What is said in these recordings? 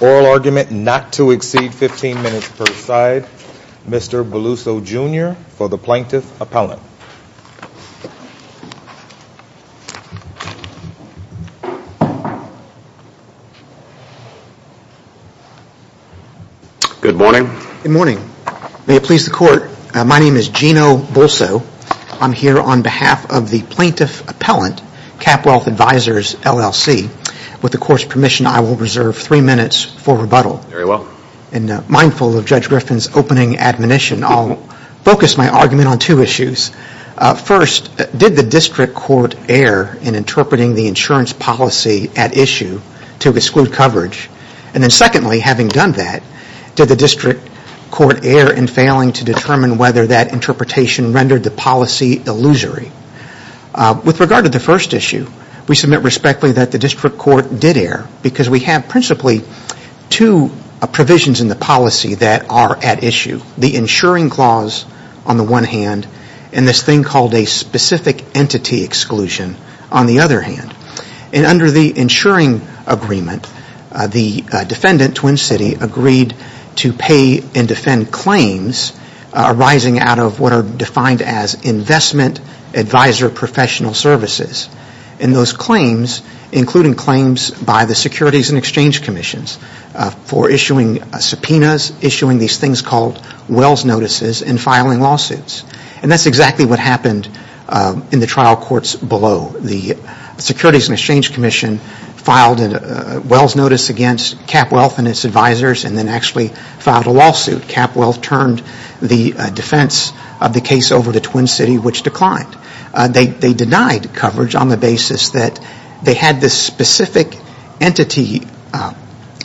Oral argument not to exceed 15 minutes per side, Mr. Beluso Jr. for the Plaintiff Appellant. Good morning. Good morning. May it please the Court, my name is Gino Beluso. I'm here on behalf of the Plaintiff Appellant, CapWealth Advisors LLC. With the Court's permission, I will reserve three minutes for rebuttal. Very well. And mindful of Judge Griffin's opening admonition, I'll focus my argument on two issues. First, did the District Court err in interpreting the insurance policy at issue to exclude coverage? And then secondly, having done that, did the District Court err in failing to determine whether that interpretation rendered the policy illusory? With regard to the first issue, we submit respectfully that the District Court did err because we have principally two provisions in the policy that are at issue. The insuring clause on the one hand, and this thing called a specific entity exclusion on the other hand. And under the insuring agreement, the defendant, Twin City, agreed to pay and defend claims arising out of what are defined as investment advisor professional services. And those claims, including claims by the Securities and Exchange Commissions for issuing subpoenas, issuing these things called Wells Notices, and filing lawsuits. And that's exactly what happened in the trial courts below. The Securities and Exchange Commission filed a Wells Notice against CapWealth and its advisors and then actually filed a lawsuit. CapWealth turned the defense of the case over to Twin City, which declined. They denied coverage on the basis that they had this specific entity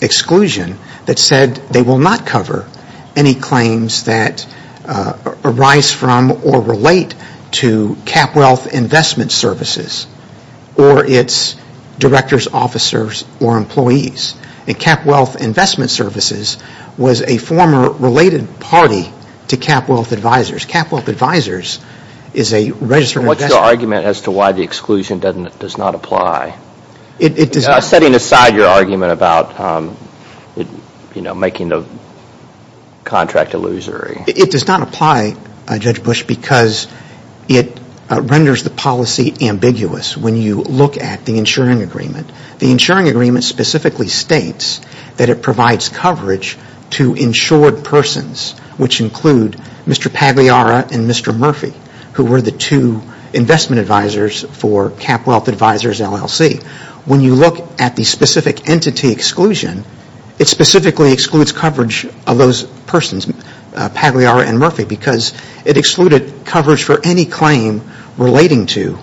exclusion that said that they will not cover any claims that arise from or relate to CapWealth Investment Services or its directors, officers, or employees. And CapWealth Investment Services was a former related party to CapWealth Advisors. CapWealth Advisors is a registered investor. What's your argument as to why the exclusion does not apply? Setting aside your argument about making the contract illusory. It does not apply, Judge Bush, because it renders the policy ambiguous when you look at the insuring agreement. The insuring agreement specifically states that it provides coverage to insured persons, which include Mr. Pagliara and Mr. Murphy, who were the two investment advisors for CapWealth Advisors LLC. When you look at the specific entity exclusion, it specifically excludes coverage of those persons, Pagliara and Murphy, because it excluded coverage for any claim relating to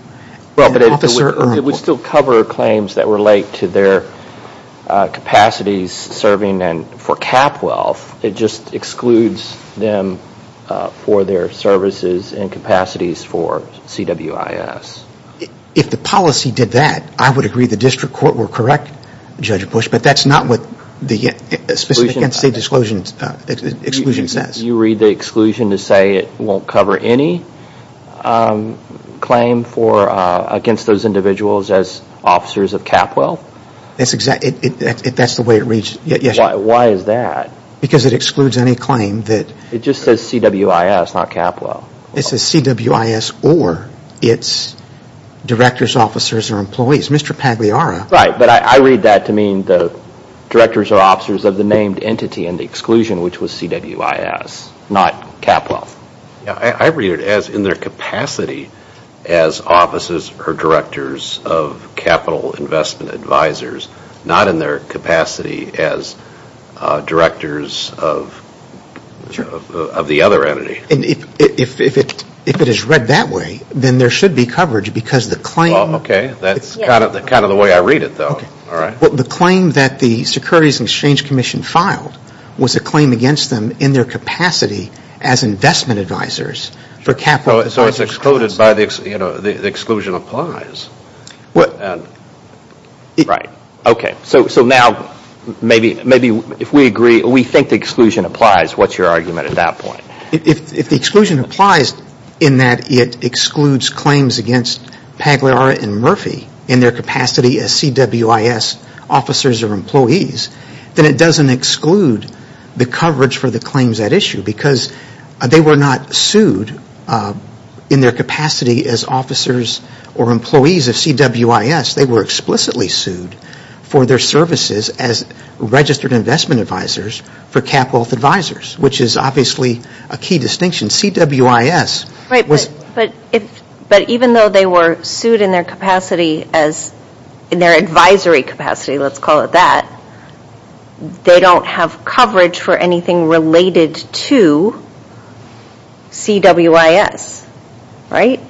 an officer or employee. It would still cover claims that relate to their capacities serving for CapWealth. It just excludes them for their services and capacities for CWIS. If the policy did that, I would agree the district court were correct, Judge Bush, but that's not what the specific entity exclusion says. You read the exclusion to say it won't cover any claim against those individuals as officers of CapWealth? That's the way it reads. Why is that? Because it excludes any claim. It just says CWIS, not CapWealth. It says CWIS or its directors, officers, or employees. Mr. Pagliara? Right, but I read that to mean the directors or officers of the named entity in the exclusion, which was CWIS, not CapWealth. I read it as in their capacity as offices or directors of capital investment advisors, not in their capacity as directors of the other entity. If it is read that way, then there should be coverage because the claim... Okay, that's kind of the way I read it, though. The claim that the Securities and Exchange Commission filed was a claim against them in their capacity as investment advisors for CapWealth. So it's excluded by the exclusion applies. Right, okay. So now maybe if we agree, we think the exclusion applies, what's your argument at that point? If the exclusion applies in that it excludes claims against Pagliara and Murphy in their capacity as CWIS officers or employees, then it doesn't exclude the coverage for the claims at issue because they were not sued in their capacity as officers or employees of CWIS. They were explicitly sued for their services as registered investment advisors for CapWealth advisors, which is obviously a key distinction. CWIS... Right, but even though they were sued in their capacity as, in their advisory capacity, let's call it that, they don't have coverage for anything related to CWIS, right?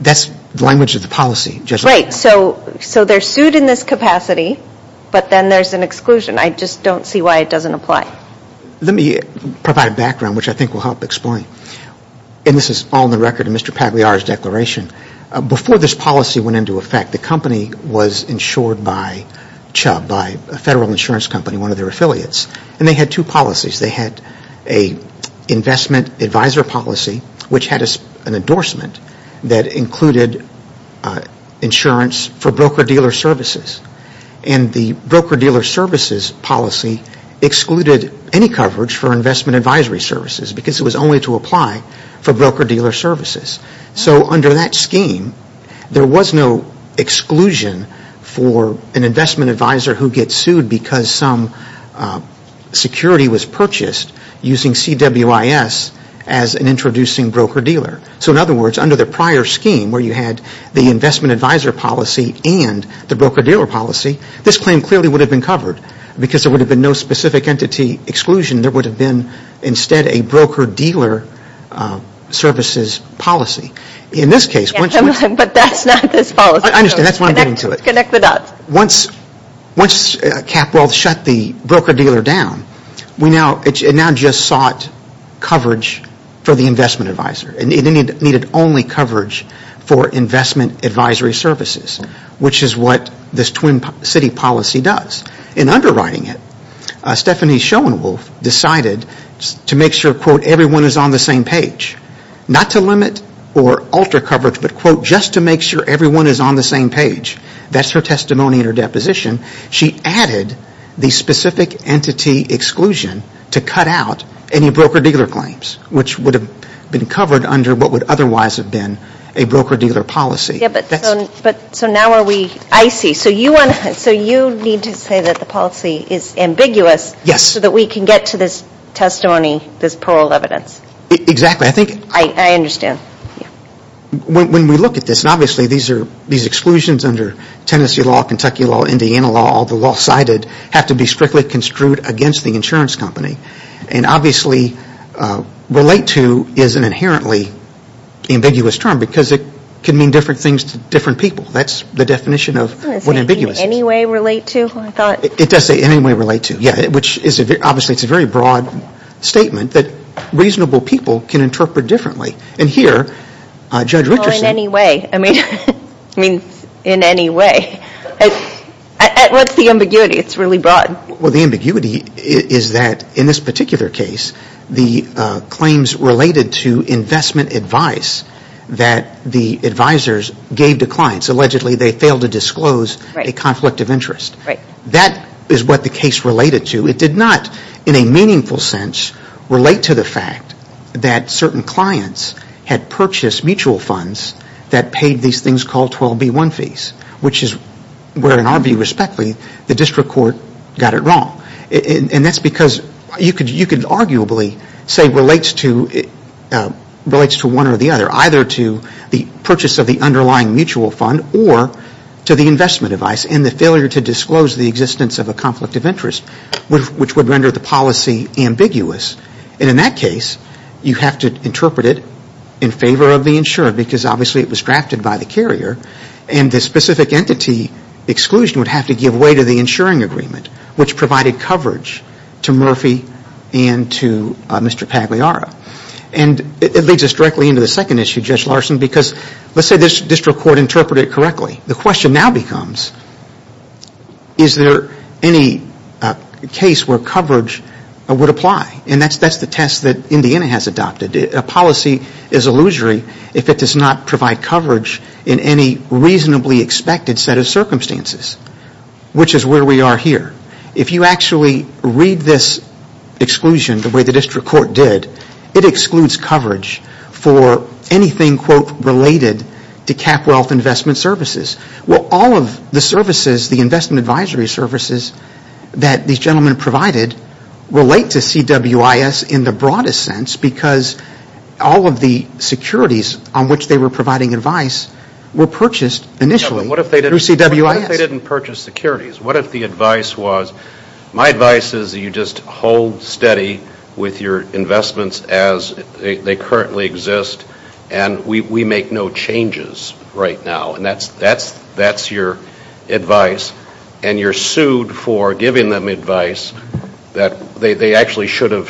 That's the language of the policy, just... Right, so they're sued in this capacity, but then there's an exclusion. I just don't see why it doesn't apply. Let me provide background, which I think will help explain, and this is all in the record of Mr. Pagliara's declaration. Before this policy went into effect, the company was insured by Chubb, by a federal insurance company, one of their affiliates, and they had two policies. They had an investment advisor policy, which had an endorsement that included insurance for broker-dealer services, and the broker-dealer services policy excluded any coverage for investment advisory services because it was only to apply for broker-dealer services. So under that scheme, there was no exclusion for an investment advisor who gets sued because some security was purchased using CWIS as an introducing broker-dealer. So in other words, under the prior scheme, where you had the investment advisor policy and the broker-dealer policy, this claim clearly would have been covered because there would have been no specific entity exclusion. There would have been instead a broker-dealer services policy. In this case... But that's not this policy. I understand. That's what I'm getting to. Connect the dots. Once CapWealth shut the broker-dealer down, it now just sought coverage for the investment advisor, and it needed only coverage for investment advisory services, which is what this Twin City policy does. In underwriting it, Stephanie Schoenwolf decided to make sure, quote, everyone is on the same page, not to limit or alter coverage, but, quote, just to make sure everyone is on the same page. That's her testimony in her deposition. She added the specific entity exclusion to cut out any broker-dealer claims, which would have been covered under what would otherwise have been a broker-dealer policy. So now are we... I see. So you need to say that the policy is ambiguous so that we can get to this testimony, this paroled evidence. Exactly. I think... I understand. When we look at this, and obviously these exclusions under Tennessee law, Kentucky law, Indiana law, all the law cited, have to be strictly construed against the insurance company, and obviously, relate to is an inherently ambiguous term because it can mean different things to different people. That's the definition of what ambiguous is. It doesn't say in any way relate to, I thought. It does say in any way relate to, yeah, which obviously is a very broad statement that reasonable people can interpret differently. And here, Judge Richardson... Well, in any way. In any way. What's the ambiguity? It's really broad. Well, the ambiguity is that in this particular case, the claims related to investment advice that the advisors gave to clients, allegedly they failed to disclose a conflict of interest. That is what the case related to. It did not, in a meaningful sense, relate to the fact that certain clients had purchased mutual funds that paid these things called 12B1 fees, which is where, in our view, respectfully, the district court got it wrong. And that's because you can arguably say relates to one or the other, either to the purchase of the underlying mutual fund or to the investment advice and the failure to disclose the existence of a conflict of interest, which would render the policy ambiguous. And in that case, you have to interpret it in favor of the insurer because obviously it was drafted by the carrier and the specific entity exclusion would have to give way to the insuring agreement, which provided coverage to Murphy and to Mr. Pagliara. And it leads us directly into the second issue, Judge Larson, because let's say this district court interpreted it correctly. The question now becomes, is there any case where coverage would apply? And that's the test that Indiana has adopted. A policy is illusory if it does not provide coverage in any reasonably expected set of circumstances, which is where we are here. If you actually read this exclusion the way the district court did, it excludes coverage for anything, quote, related to cap wealth investment services. Well, all of the services, the investment advisory services that these gentlemen provided relate to CWIS in the broadest sense because all of the securities on which they were providing advice were purchased initially through CWIS. What if they didn't purchase securities? What if the advice was, my advice is that you just hold steady with your investments as they currently exist and we make no changes right now. That's your advice and you're sued for giving them advice that they actually should have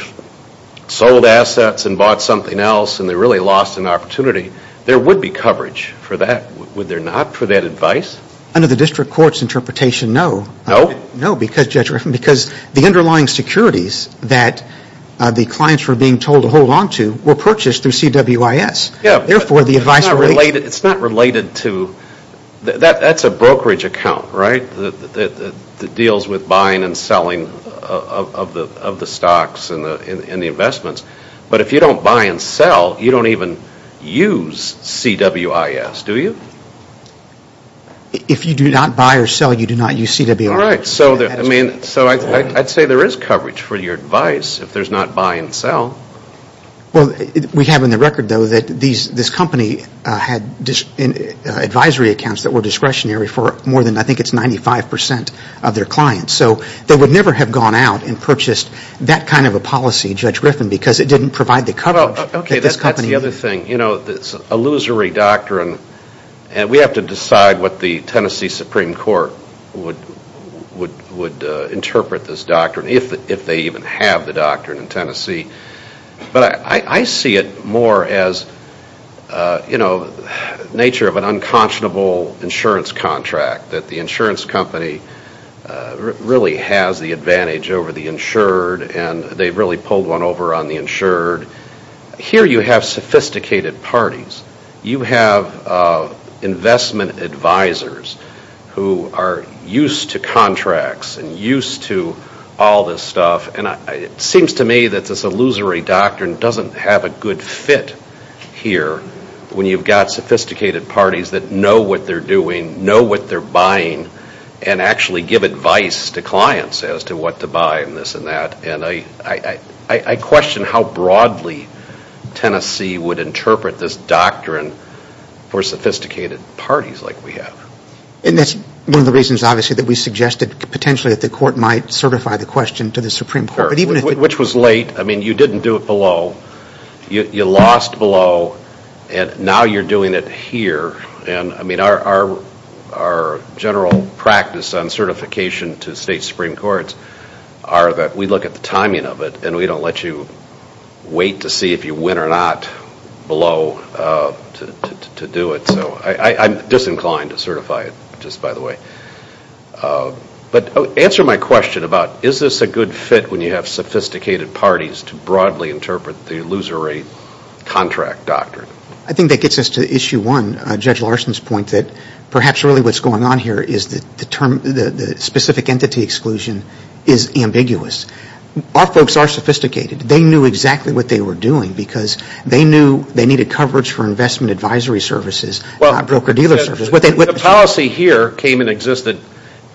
sold assets and bought something else and they really lost an opportunity. There would be coverage for that, would there not, for that advice? Under the district court's interpretation, no. No? No, because the underlying securities that the clients were being told to hold on to were purchased through CWIS. Therefore, the advice related to... It's not related to, that's a brokerage account, right, that deals with buying and selling of the stocks and the investments. But if you don't buy and sell, you don't even use CWIS, do you? If you do not buy or sell, you do not use CWIS. All right, so I'd say there is coverage for your advice if there's not buy and sell. Well, we have in the record, though, that this company had advisory accounts that were discretionary for more than, I think it's 95% of their clients. So they would never have gone out and purchased that kind of a policy, Judge Griffin, because it didn't provide the coverage that this company... Okay, that's the other thing. You know, this illusory doctrine, and we have to decide what the Tennessee Supreme Court would interpret this doctrine, if they even have the doctrine in Tennessee. But I see it more as, you know, nature of an unconscionable insurance contract, that the insurance company really has the advantage over the insured, and they've really pulled one over on the insured. Here you have sophisticated parties. You have investment advisors who are used to contracts and used to all this stuff. And it seems to me that this illusory doctrine doesn't have a good fit here when you've got sophisticated parties that know what they're doing, know what they're buying, and actually give advice to clients as to what to buy and this and that. And I question how broadly Tennessee would interpret this doctrine for sophisticated parties like we have. And that's one of the reasons, obviously, that we suggested potentially that the court might certify the question to the Supreme Court, but even if... Which was late. I mean, you didn't do it below. You lost below, and now you're doing it here. And I mean, our general practice on certification to state Supreme Courts are that we look at the timing of it, and we don't let you wait to see if you win or not below to do it. So I'm disinclined to certify it, just by the way. But answer my question about is this a good fit when you have sophisticated parties to broadly interpret the illusory contract doctrine? I think that gets us to issue one, Judge Larson's point that perhaps really what's going on here is the specific entity exclusion is ambiguous. Our folks are sophisticated. They knew exactly what they were doing, because they knew they needed coverage for investment advisory services, broker-dealer services. The policy here came and existed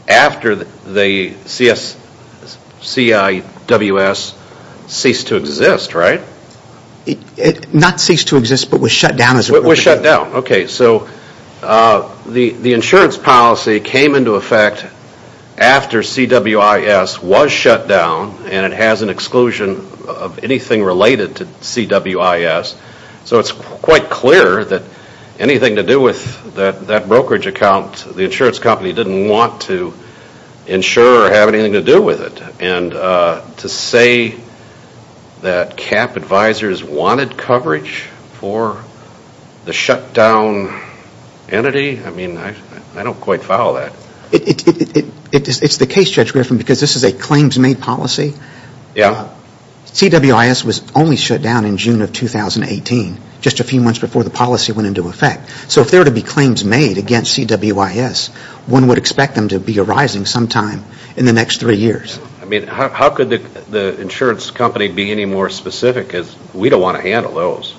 after the CIWS ceased to exist, right? It not ceased to exist, but was shut down. Was shut down. Okay, so the insurance policy came into effect after CWIS was shut down, and it has an exclusion of anything related to CWIS. So it's quite clear that anything to do with that brokerage account, the insurance company didn't want to insure or have anything to do with it. And to say that CAP advisors wanted coverage for the shut down entity, I mean, I don't quite follow that. It's the case, Judge Griffin, because this is a claims-made policy. Yeah. CWIS was only shut down in June of 2018, just a few months before the policy went into effect. So if there were to be claims made against CWIS, one would expect them to be arising sometime in the next three years. I mean, how could the insurance company be any more specific? Because we don't want to handle those.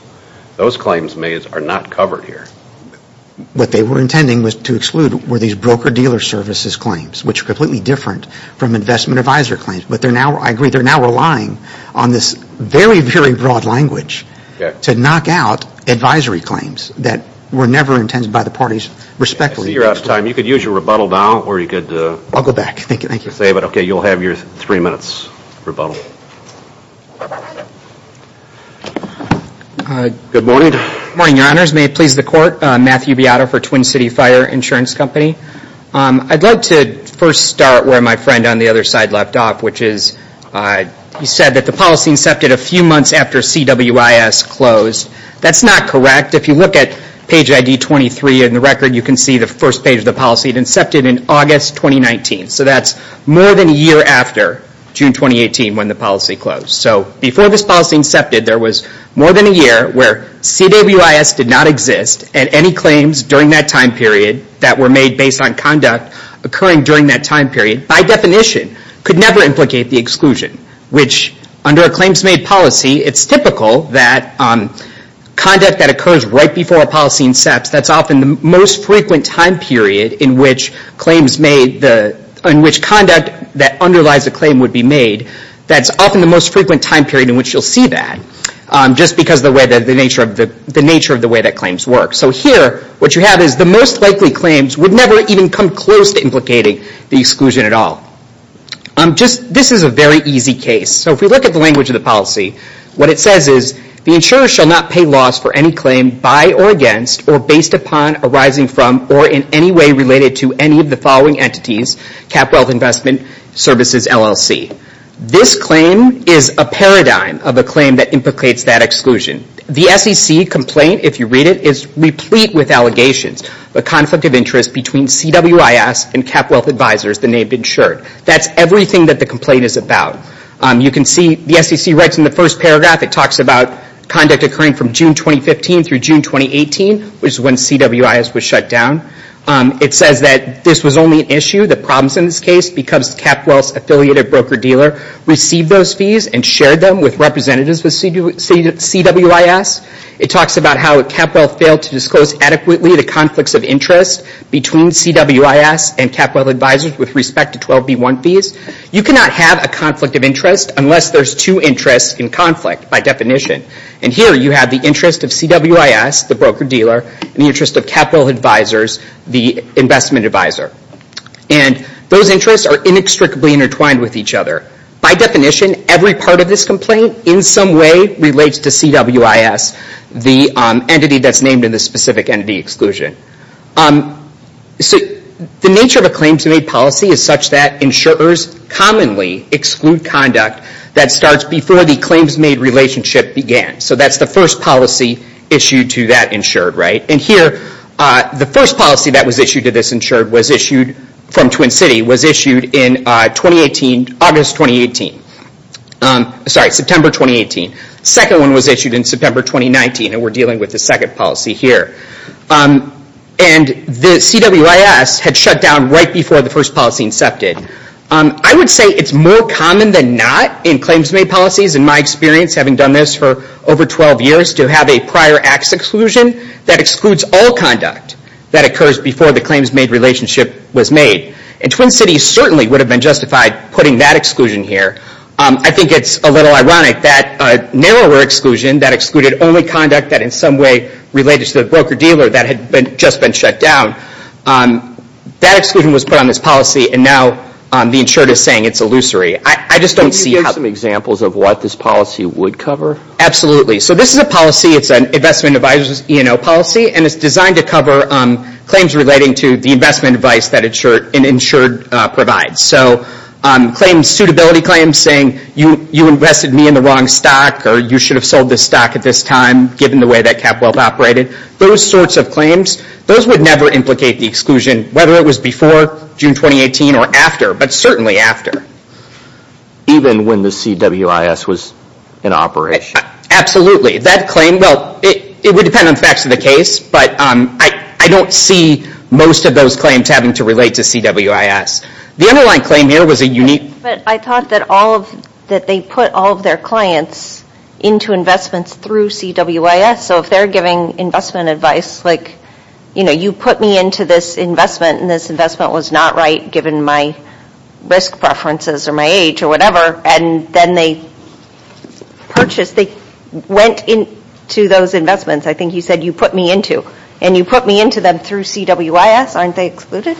Those claims made are not covered here. What they were intending was to exclude were these broker-dealer services claims, which are completely different from investment advisor claims. But they're now, I agree, they're now relying on this very, very broad language to knock out advisory claims that were never intended by the parties respectively. I see you're out of time. You could use your rebuttal now, or you could... I'll go back. Thank you, thank you. I don't know what to say, but okay, you'll have your three minutes' rebuttal. Good morning. Good morning, Your Honors. May it please the Court. Matthew Beato for Twin City Fire Insurance Company. I'd like to first start where my friend on the other side left off, which is he said that the policy incepted a few months after CWIS closed. That's not correct. If you look at page ID 23 in the record, you can see the first page of the policy. It incepted in August 2019. So that's more than a year after June 2018 when the policy closed. So before this policy incepted, there was more than a year where CWIS did not exist and any claims during that time period that were made based on conduct occurring during that time period, by definition, could never implicate the exclusion, which under a claims made policy, it's typical that conduct that occurs right before a policy incepts, that's often the most frequent time period in which conduct that underlies a claim would be made. That's often the most frequent time period in which you'll see that, just because of the nature of the way that claims work. So here, what you have is the most likely claims would never even come close to implicating the exclusion at all. This is a very easy case. So if we look at the language of the policy, what it says is, the insurer shall not pay loss for any claim by or against, or based upon, arising from, or in any way related to any of the following entities, Cap Wealth Investment Services, LLC. This claim is a paradigm of a claim that implicates that exclusion. The SEC complaint, if you read it, is replete with allegations, the conflict of interest between CWIS and Cap Wealth Advisors, the name ensured. That's everything that the complaint is about. You can see the SEC writes in the first paragraph, it talks about conduct occurring from June 2015 through June 2018, which is when CWIS was shut down. It says that this was only an issue, the problems in this case, because Cap Wealth's affiliated broker dealer received those fees and shared them with representatives with CWIS. It talks about how Cap Wealth failed to disclose adequately the conflicts of interest between CWIS and Cap Wealth Advisors with respect to 12B1 fees. You cannot have a conflict of interest unless there's two interests in conflict, by definition. Here you have the interest of CWIS, the broker dealer, and the interest of Cap Wealth Advisors, the investment advisor. Those interests are inextricably intertwined with each other. By definition, every part of this complaint in some way relates to CWIS, the entity that's named in this specific entity exclusion. The nature of a claims-made policy is such that insurers commonly exclude conduct that starts before the claims-made relationship began. That's the first policy issued to that insured. Here, the first policy that was issued to this insured was issued from Twin City, was issued in August 2018, sorry, September 2018. Second one was issued in September 2019, and we're dealing with the second policy here. The CWIS had shut down right before the first policy incepted. I would say it's more common than not in claims-made policies, in my experience, having done this for over 12 years, to have a prior acts exclusion that excludes all conduct that occurs before the claims-made relationship was made. Twin City certainly would have been justified putting that exclusion here. I think it's a little ironic that a narrower exclusion that excluded only conduct that in some way related to the broker dealer that had just been shut down, that exclusion was put on this policy, and now the insured is saying it's illusory. I just don't see how- Can you give some examples of what this policy would cover? Absolutely. This is a policy, it's an investment advisors E&O policy, and it's designed to cover claims relating to the investment advice that an insured provides. Claims suitability claims saying, you invested me in the wrong stock, or you should have sold this stock at this time, given the way that CapWealth operated. Those sorts of claims. Those would never implicate the exclusion, whether it was before June 2018 or after, but certainly after. Even when the CWIS was in operation? Absolutely. That claim, well, it would depend on facts of the case, but I don't see most of those claims having to relate to CWIS. The underlying claim here was a unique- I thought that they put all of their clients into investments through CWIS, so if they're giving investment advice, like, you put me into this investment, and this investment was not right, given my risk preferences, or my age, or whatever, and then they purchased, they went into those investments, I think you said, you put me into, and you put me into them through CWIS, aren't they excluded?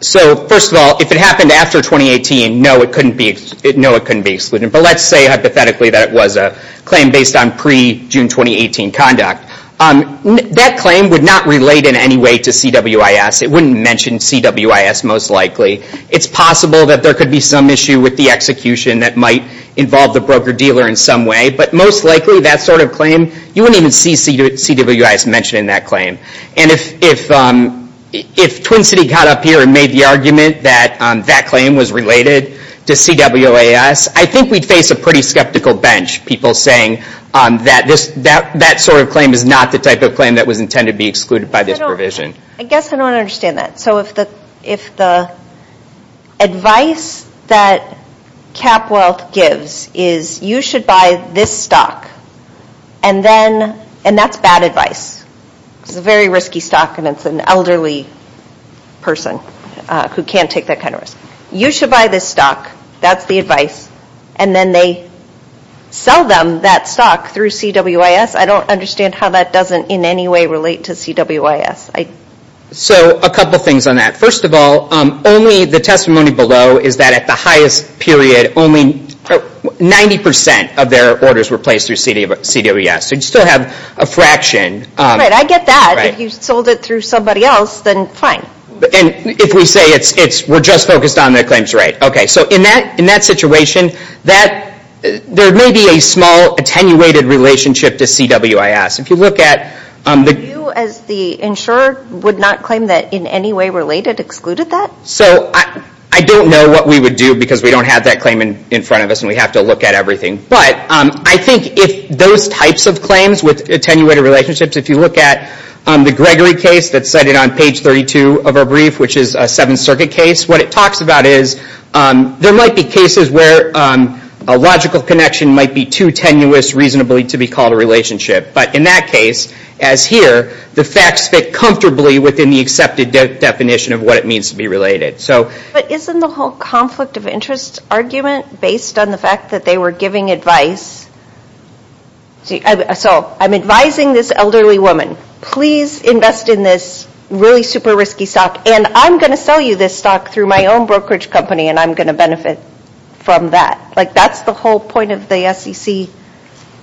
So first of all, if it happened after 2018, no, it couldn't be excluded, but let's say hypothetically that it was a claim based on pre-June 2018 conduct. That claim would not relate in any way to CWIS. It wouldn't mention CWIS, most likely. It's possible that there could be some issue with the execution that might involve the broker-dealer in some way, but most likely, that sort of claim, you wouldn't even see CWIS mentioned in that claim. And if Twin City got up here and made the argument that that claim was related to CWIS, I think we'd face a pretty skeptical bench, people saying that that sort of claim is not the type of claim that was intended to be excluded by this provision. I guess I don't understand that. So if the advice that CapWealth gives is, you should buy this stock, and that's bad advice. It's a very risky stock, and it's an elderly person who can't take that kind of risk. You should buy this stock. That's the advice. And then they sell them that stock through CWIS. I don't understand how that doesn't in any way relate to CWIS. So a couple things on that. First of all, only the testimony below is that at the highest period, only 90% of their orders were placed through CWIS, so you still have a fraction. Right, I get that. If you sold it through somebody else, then fine. And if we say, we're just focused on the claims rate. Okay, so in that situation, there may be a small attenuated relationship to CWIS. If you look at... Do you, as the insurer, would not claim that in any way related, excluded that? So I don't know what we would do, because we don't have that claim in front of us, and we have to look at everything. But I think if those types of claims with attenuated relationships, if you look at the Gregory case that's cited on page 32 of our brief, which is a Seventh Circuit case, what it talks about is there might be cases where a logical connection might be too tenuous reasonably to be called a relationship. But in that case, as here, the facts fit comfortably within the accepted definition of what it means to be related. So... But isn't the whole conflict of interest argument based on the fact that they were giving advice? So, I'm advising this elderly woman, please invest in this really super risky stock, and I'm going to sell you this stock through my own brokerage company, and I'm going to benefit from that. Like, that's the whole point of the SEC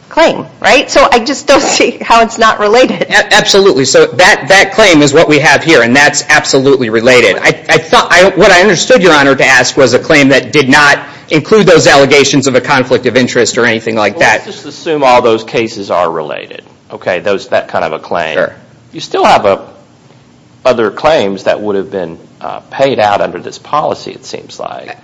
claim, right? So I just don't see how it's not related. Absolutely. So that claim is what we have here, and that's absolutely related. I thought... What I understood, Your Honor, to ask was a claim that did not include those allegations of a conflict of interest or anything like that. Well, let's just assume all those cases are related, okay? That kind of a claim. You still have other claims that would have been paid out under this policy, it seems like.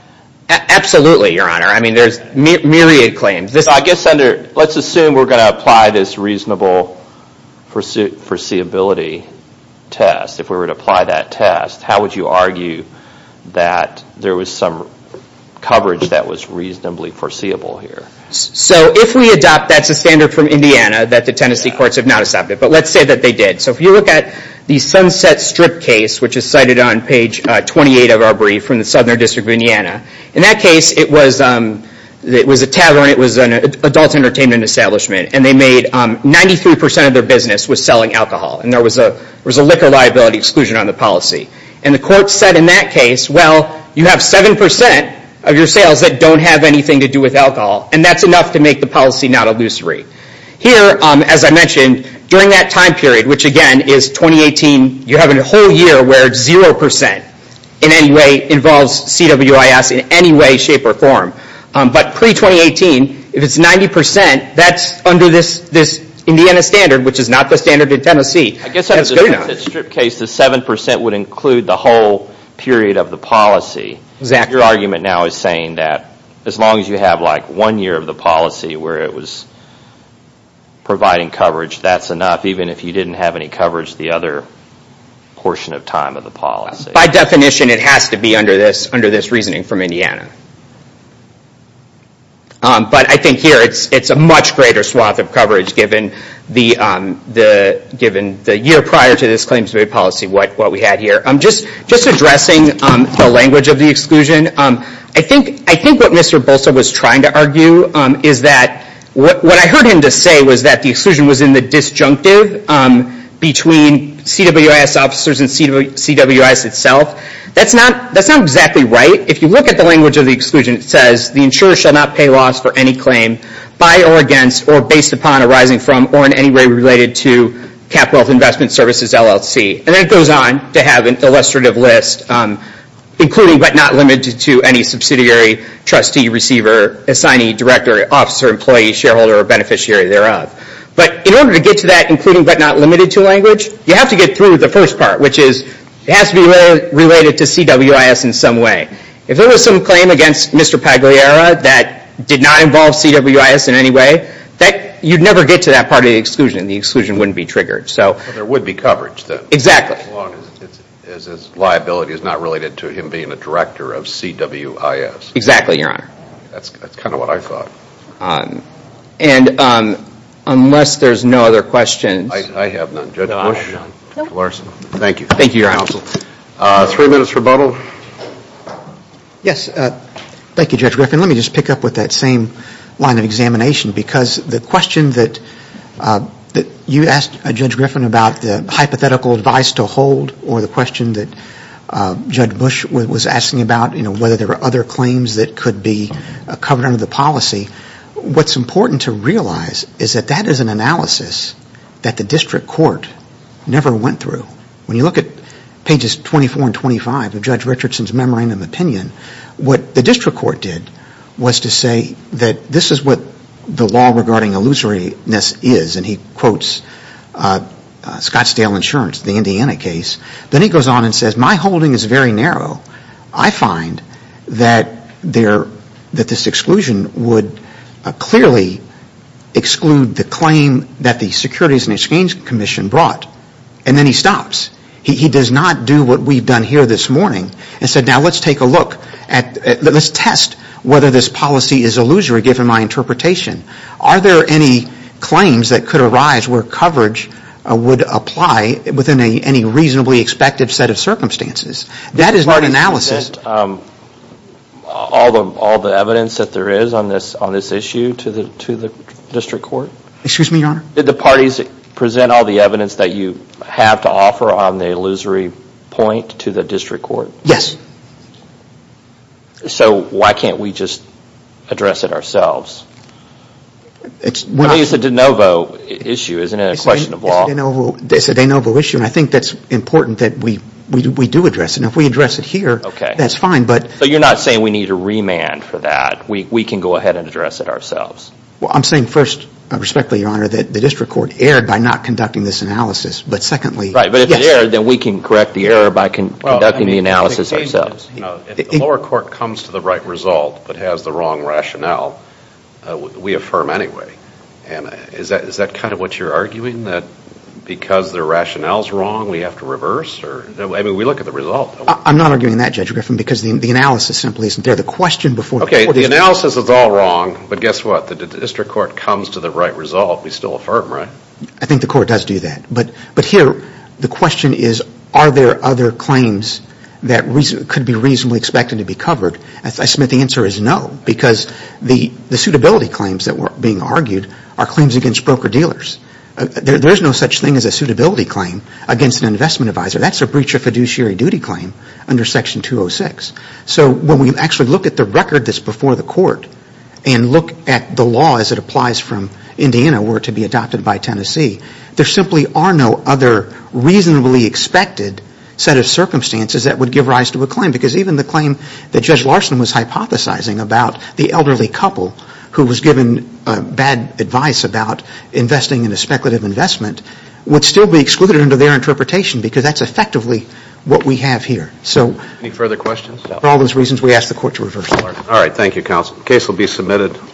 Absolutely, Your Honor. I mean, there's myriad claims. I guess under... Let's assume we're going to apply this reasonable foreseeability test. If we were to apply that test, how would you argue that there was some coverage that was reasonably foreseeable here? So if we adopt, that's a standard from Indiana that the Tennessee courts have not accepted, but let's say that they did. So if you look at the Sunset Strip case, which is cited on page 28 of our brief from the Southern District of Indiana, in that case, it was a tavern. It was an adult entertainment establishment, and they made 93% of their business was selling alcohol, and there was a liquor liability exclusion on the policy. And the court said in that case, well, you have 7% of your sales that don't have anything to do with alcohol, and that's enough to make the policy not illusory. Here, as I mentioned, during that time period, which again is 2018, you're having a whole year where 0% in any way involves CWIS in any way, shape, or form. But pre-2018, if it's 90%, that's under this Indiana standard, which is not the standard in Tennessee. I guess on the Sunset Strip case, the 7% would include the whole period of the policy. Your argument now is saying that as long as you have one year of the policy where it was providing coverage, that's enough, even if you didn't have any coverage the other portion of time of the policy. By definition, it has to be under this reasoning from Indiana. But I think here, it's a much greater swath of coverage given the year prior to this claims made policy, what we had here. Just addressing the language of the exclusion, I think what Mr. Bolsa was trying to argue is that what I heard him to say was that the exclusion was in the disjunctive between CWIS officers and CWIS itself. That's not exactly right. If you look at the language of the exclusion, it says, the insurer shall not pay loss for any claim by or against or based upon arising from or in any way related to CapWealth Investment Services LLC. And then it goes on to have an illustrative list, including but not limited to any subsidiary, trustee, receiver, assignee, director, officer, employee, shareholder, or beneficiary thereof. But in order to get to that including but not limited to language, you have to get through the first part, which is it has to be related to CWIS in some way. If there was some claim against Mr. Pagliera that did not involve CWIS in any way, you'd never get to that part of the exclusion. The exclusion wouldn't be triggered. So... There would be coverage then. Exactly. As long as his liability is not related to him being a director of CWIS. Exactly, your honor. That's kind of what I thought. And unless there's no other questions... I have none. Judge Bush? Judge Larson? No. Thank you. Thank you, your honor. Three minutes rebuttal. Yes. Thank you, Judge Griffin. Let me just pick up with that same line of examination. Because the question that you asked, Judge Griffin, about the hypothetical advice to hold or the question that Judge Bush was asking about, you know, whether there were other claims that could be covered under the policy, what's important to realize is that that is an analysis that the district court never went through. When you look at pages 24 and 25 of Judge Richardson's memorandum of opinion, what the district court did was to say that this is what the law regarding illusoriness is, and he quotes Scottsdale Insurance, the Indiana case. Then he goes on and says, my holding is very narrow. I find that this exclusion would clearly exclude the claim that the Securities and Exchange Commission brought. And then he stops. He does not do what we've done here this morning and said, now let's take a look, let's test whether this policy is illusory, given my interpretation. Are there any claims that could arise where coverage would apply within any reasonably expected set of circumstances? That is not analysis. Did the parties present all the evidence that there is on this issue to the district court? Excuse me, Your Honor? Did the parties present all the evidence that you have to offer on the illusory point to the district court? Yes. So why can't we just address it ourselves? I mean, it's a de novo issue, isn't it, a question of law? It's a de novo issue, and I think that's important that we do address it. Now, if we address it here, that's fine, but... So you're not saying we need a remand for that. We can go ahead and address it ourselves. Well, I'm saying first, respectfully, Your Honor, that the district court erred by not conducting this analysis. But secondly... Right. But if it erred, then we can correct the error by conducting the analysis ourselves. If the lower court comes to the right result, but has the wrong rationale, we affirm anyway. And is that kind of what you're arguing, that because the rationale's wrong, we have to reverse or... I mean, we look at the result. I'm not arguing that, Judge Griffin, because the analysis simply isn't there. The question before... Okay, the analysis is all wrong, but guess what? The district court comes to the right result, we still affirm, right? I think the court does do that. But here, the question is, are there other claims that could be reasonably expected to be covered? I submit the answer is no, because the suitability claims that were being argued are claims against broker-dealers. There's no such thing as a suitability claim against an investment advisor. That's a breach of fiduciary duty claim under Section 206. So when we actually look at the record that's before the court, and look at the law as it applies from Indiana, were it to be adopted by Tennessee, there simply are no other reasonably expected set of circumstances that would give rise to a claim. Because even the claim that Judge Larson was hypothesizing about the elderly couple who was given bad advice about investing in a speculative investment would still be excluded under their interpretation, because that's effectively what we have here. So... Any further questions? For all those reasons, we ask the court to reverse order. All right. Thank you, counsel. The case will be submitted.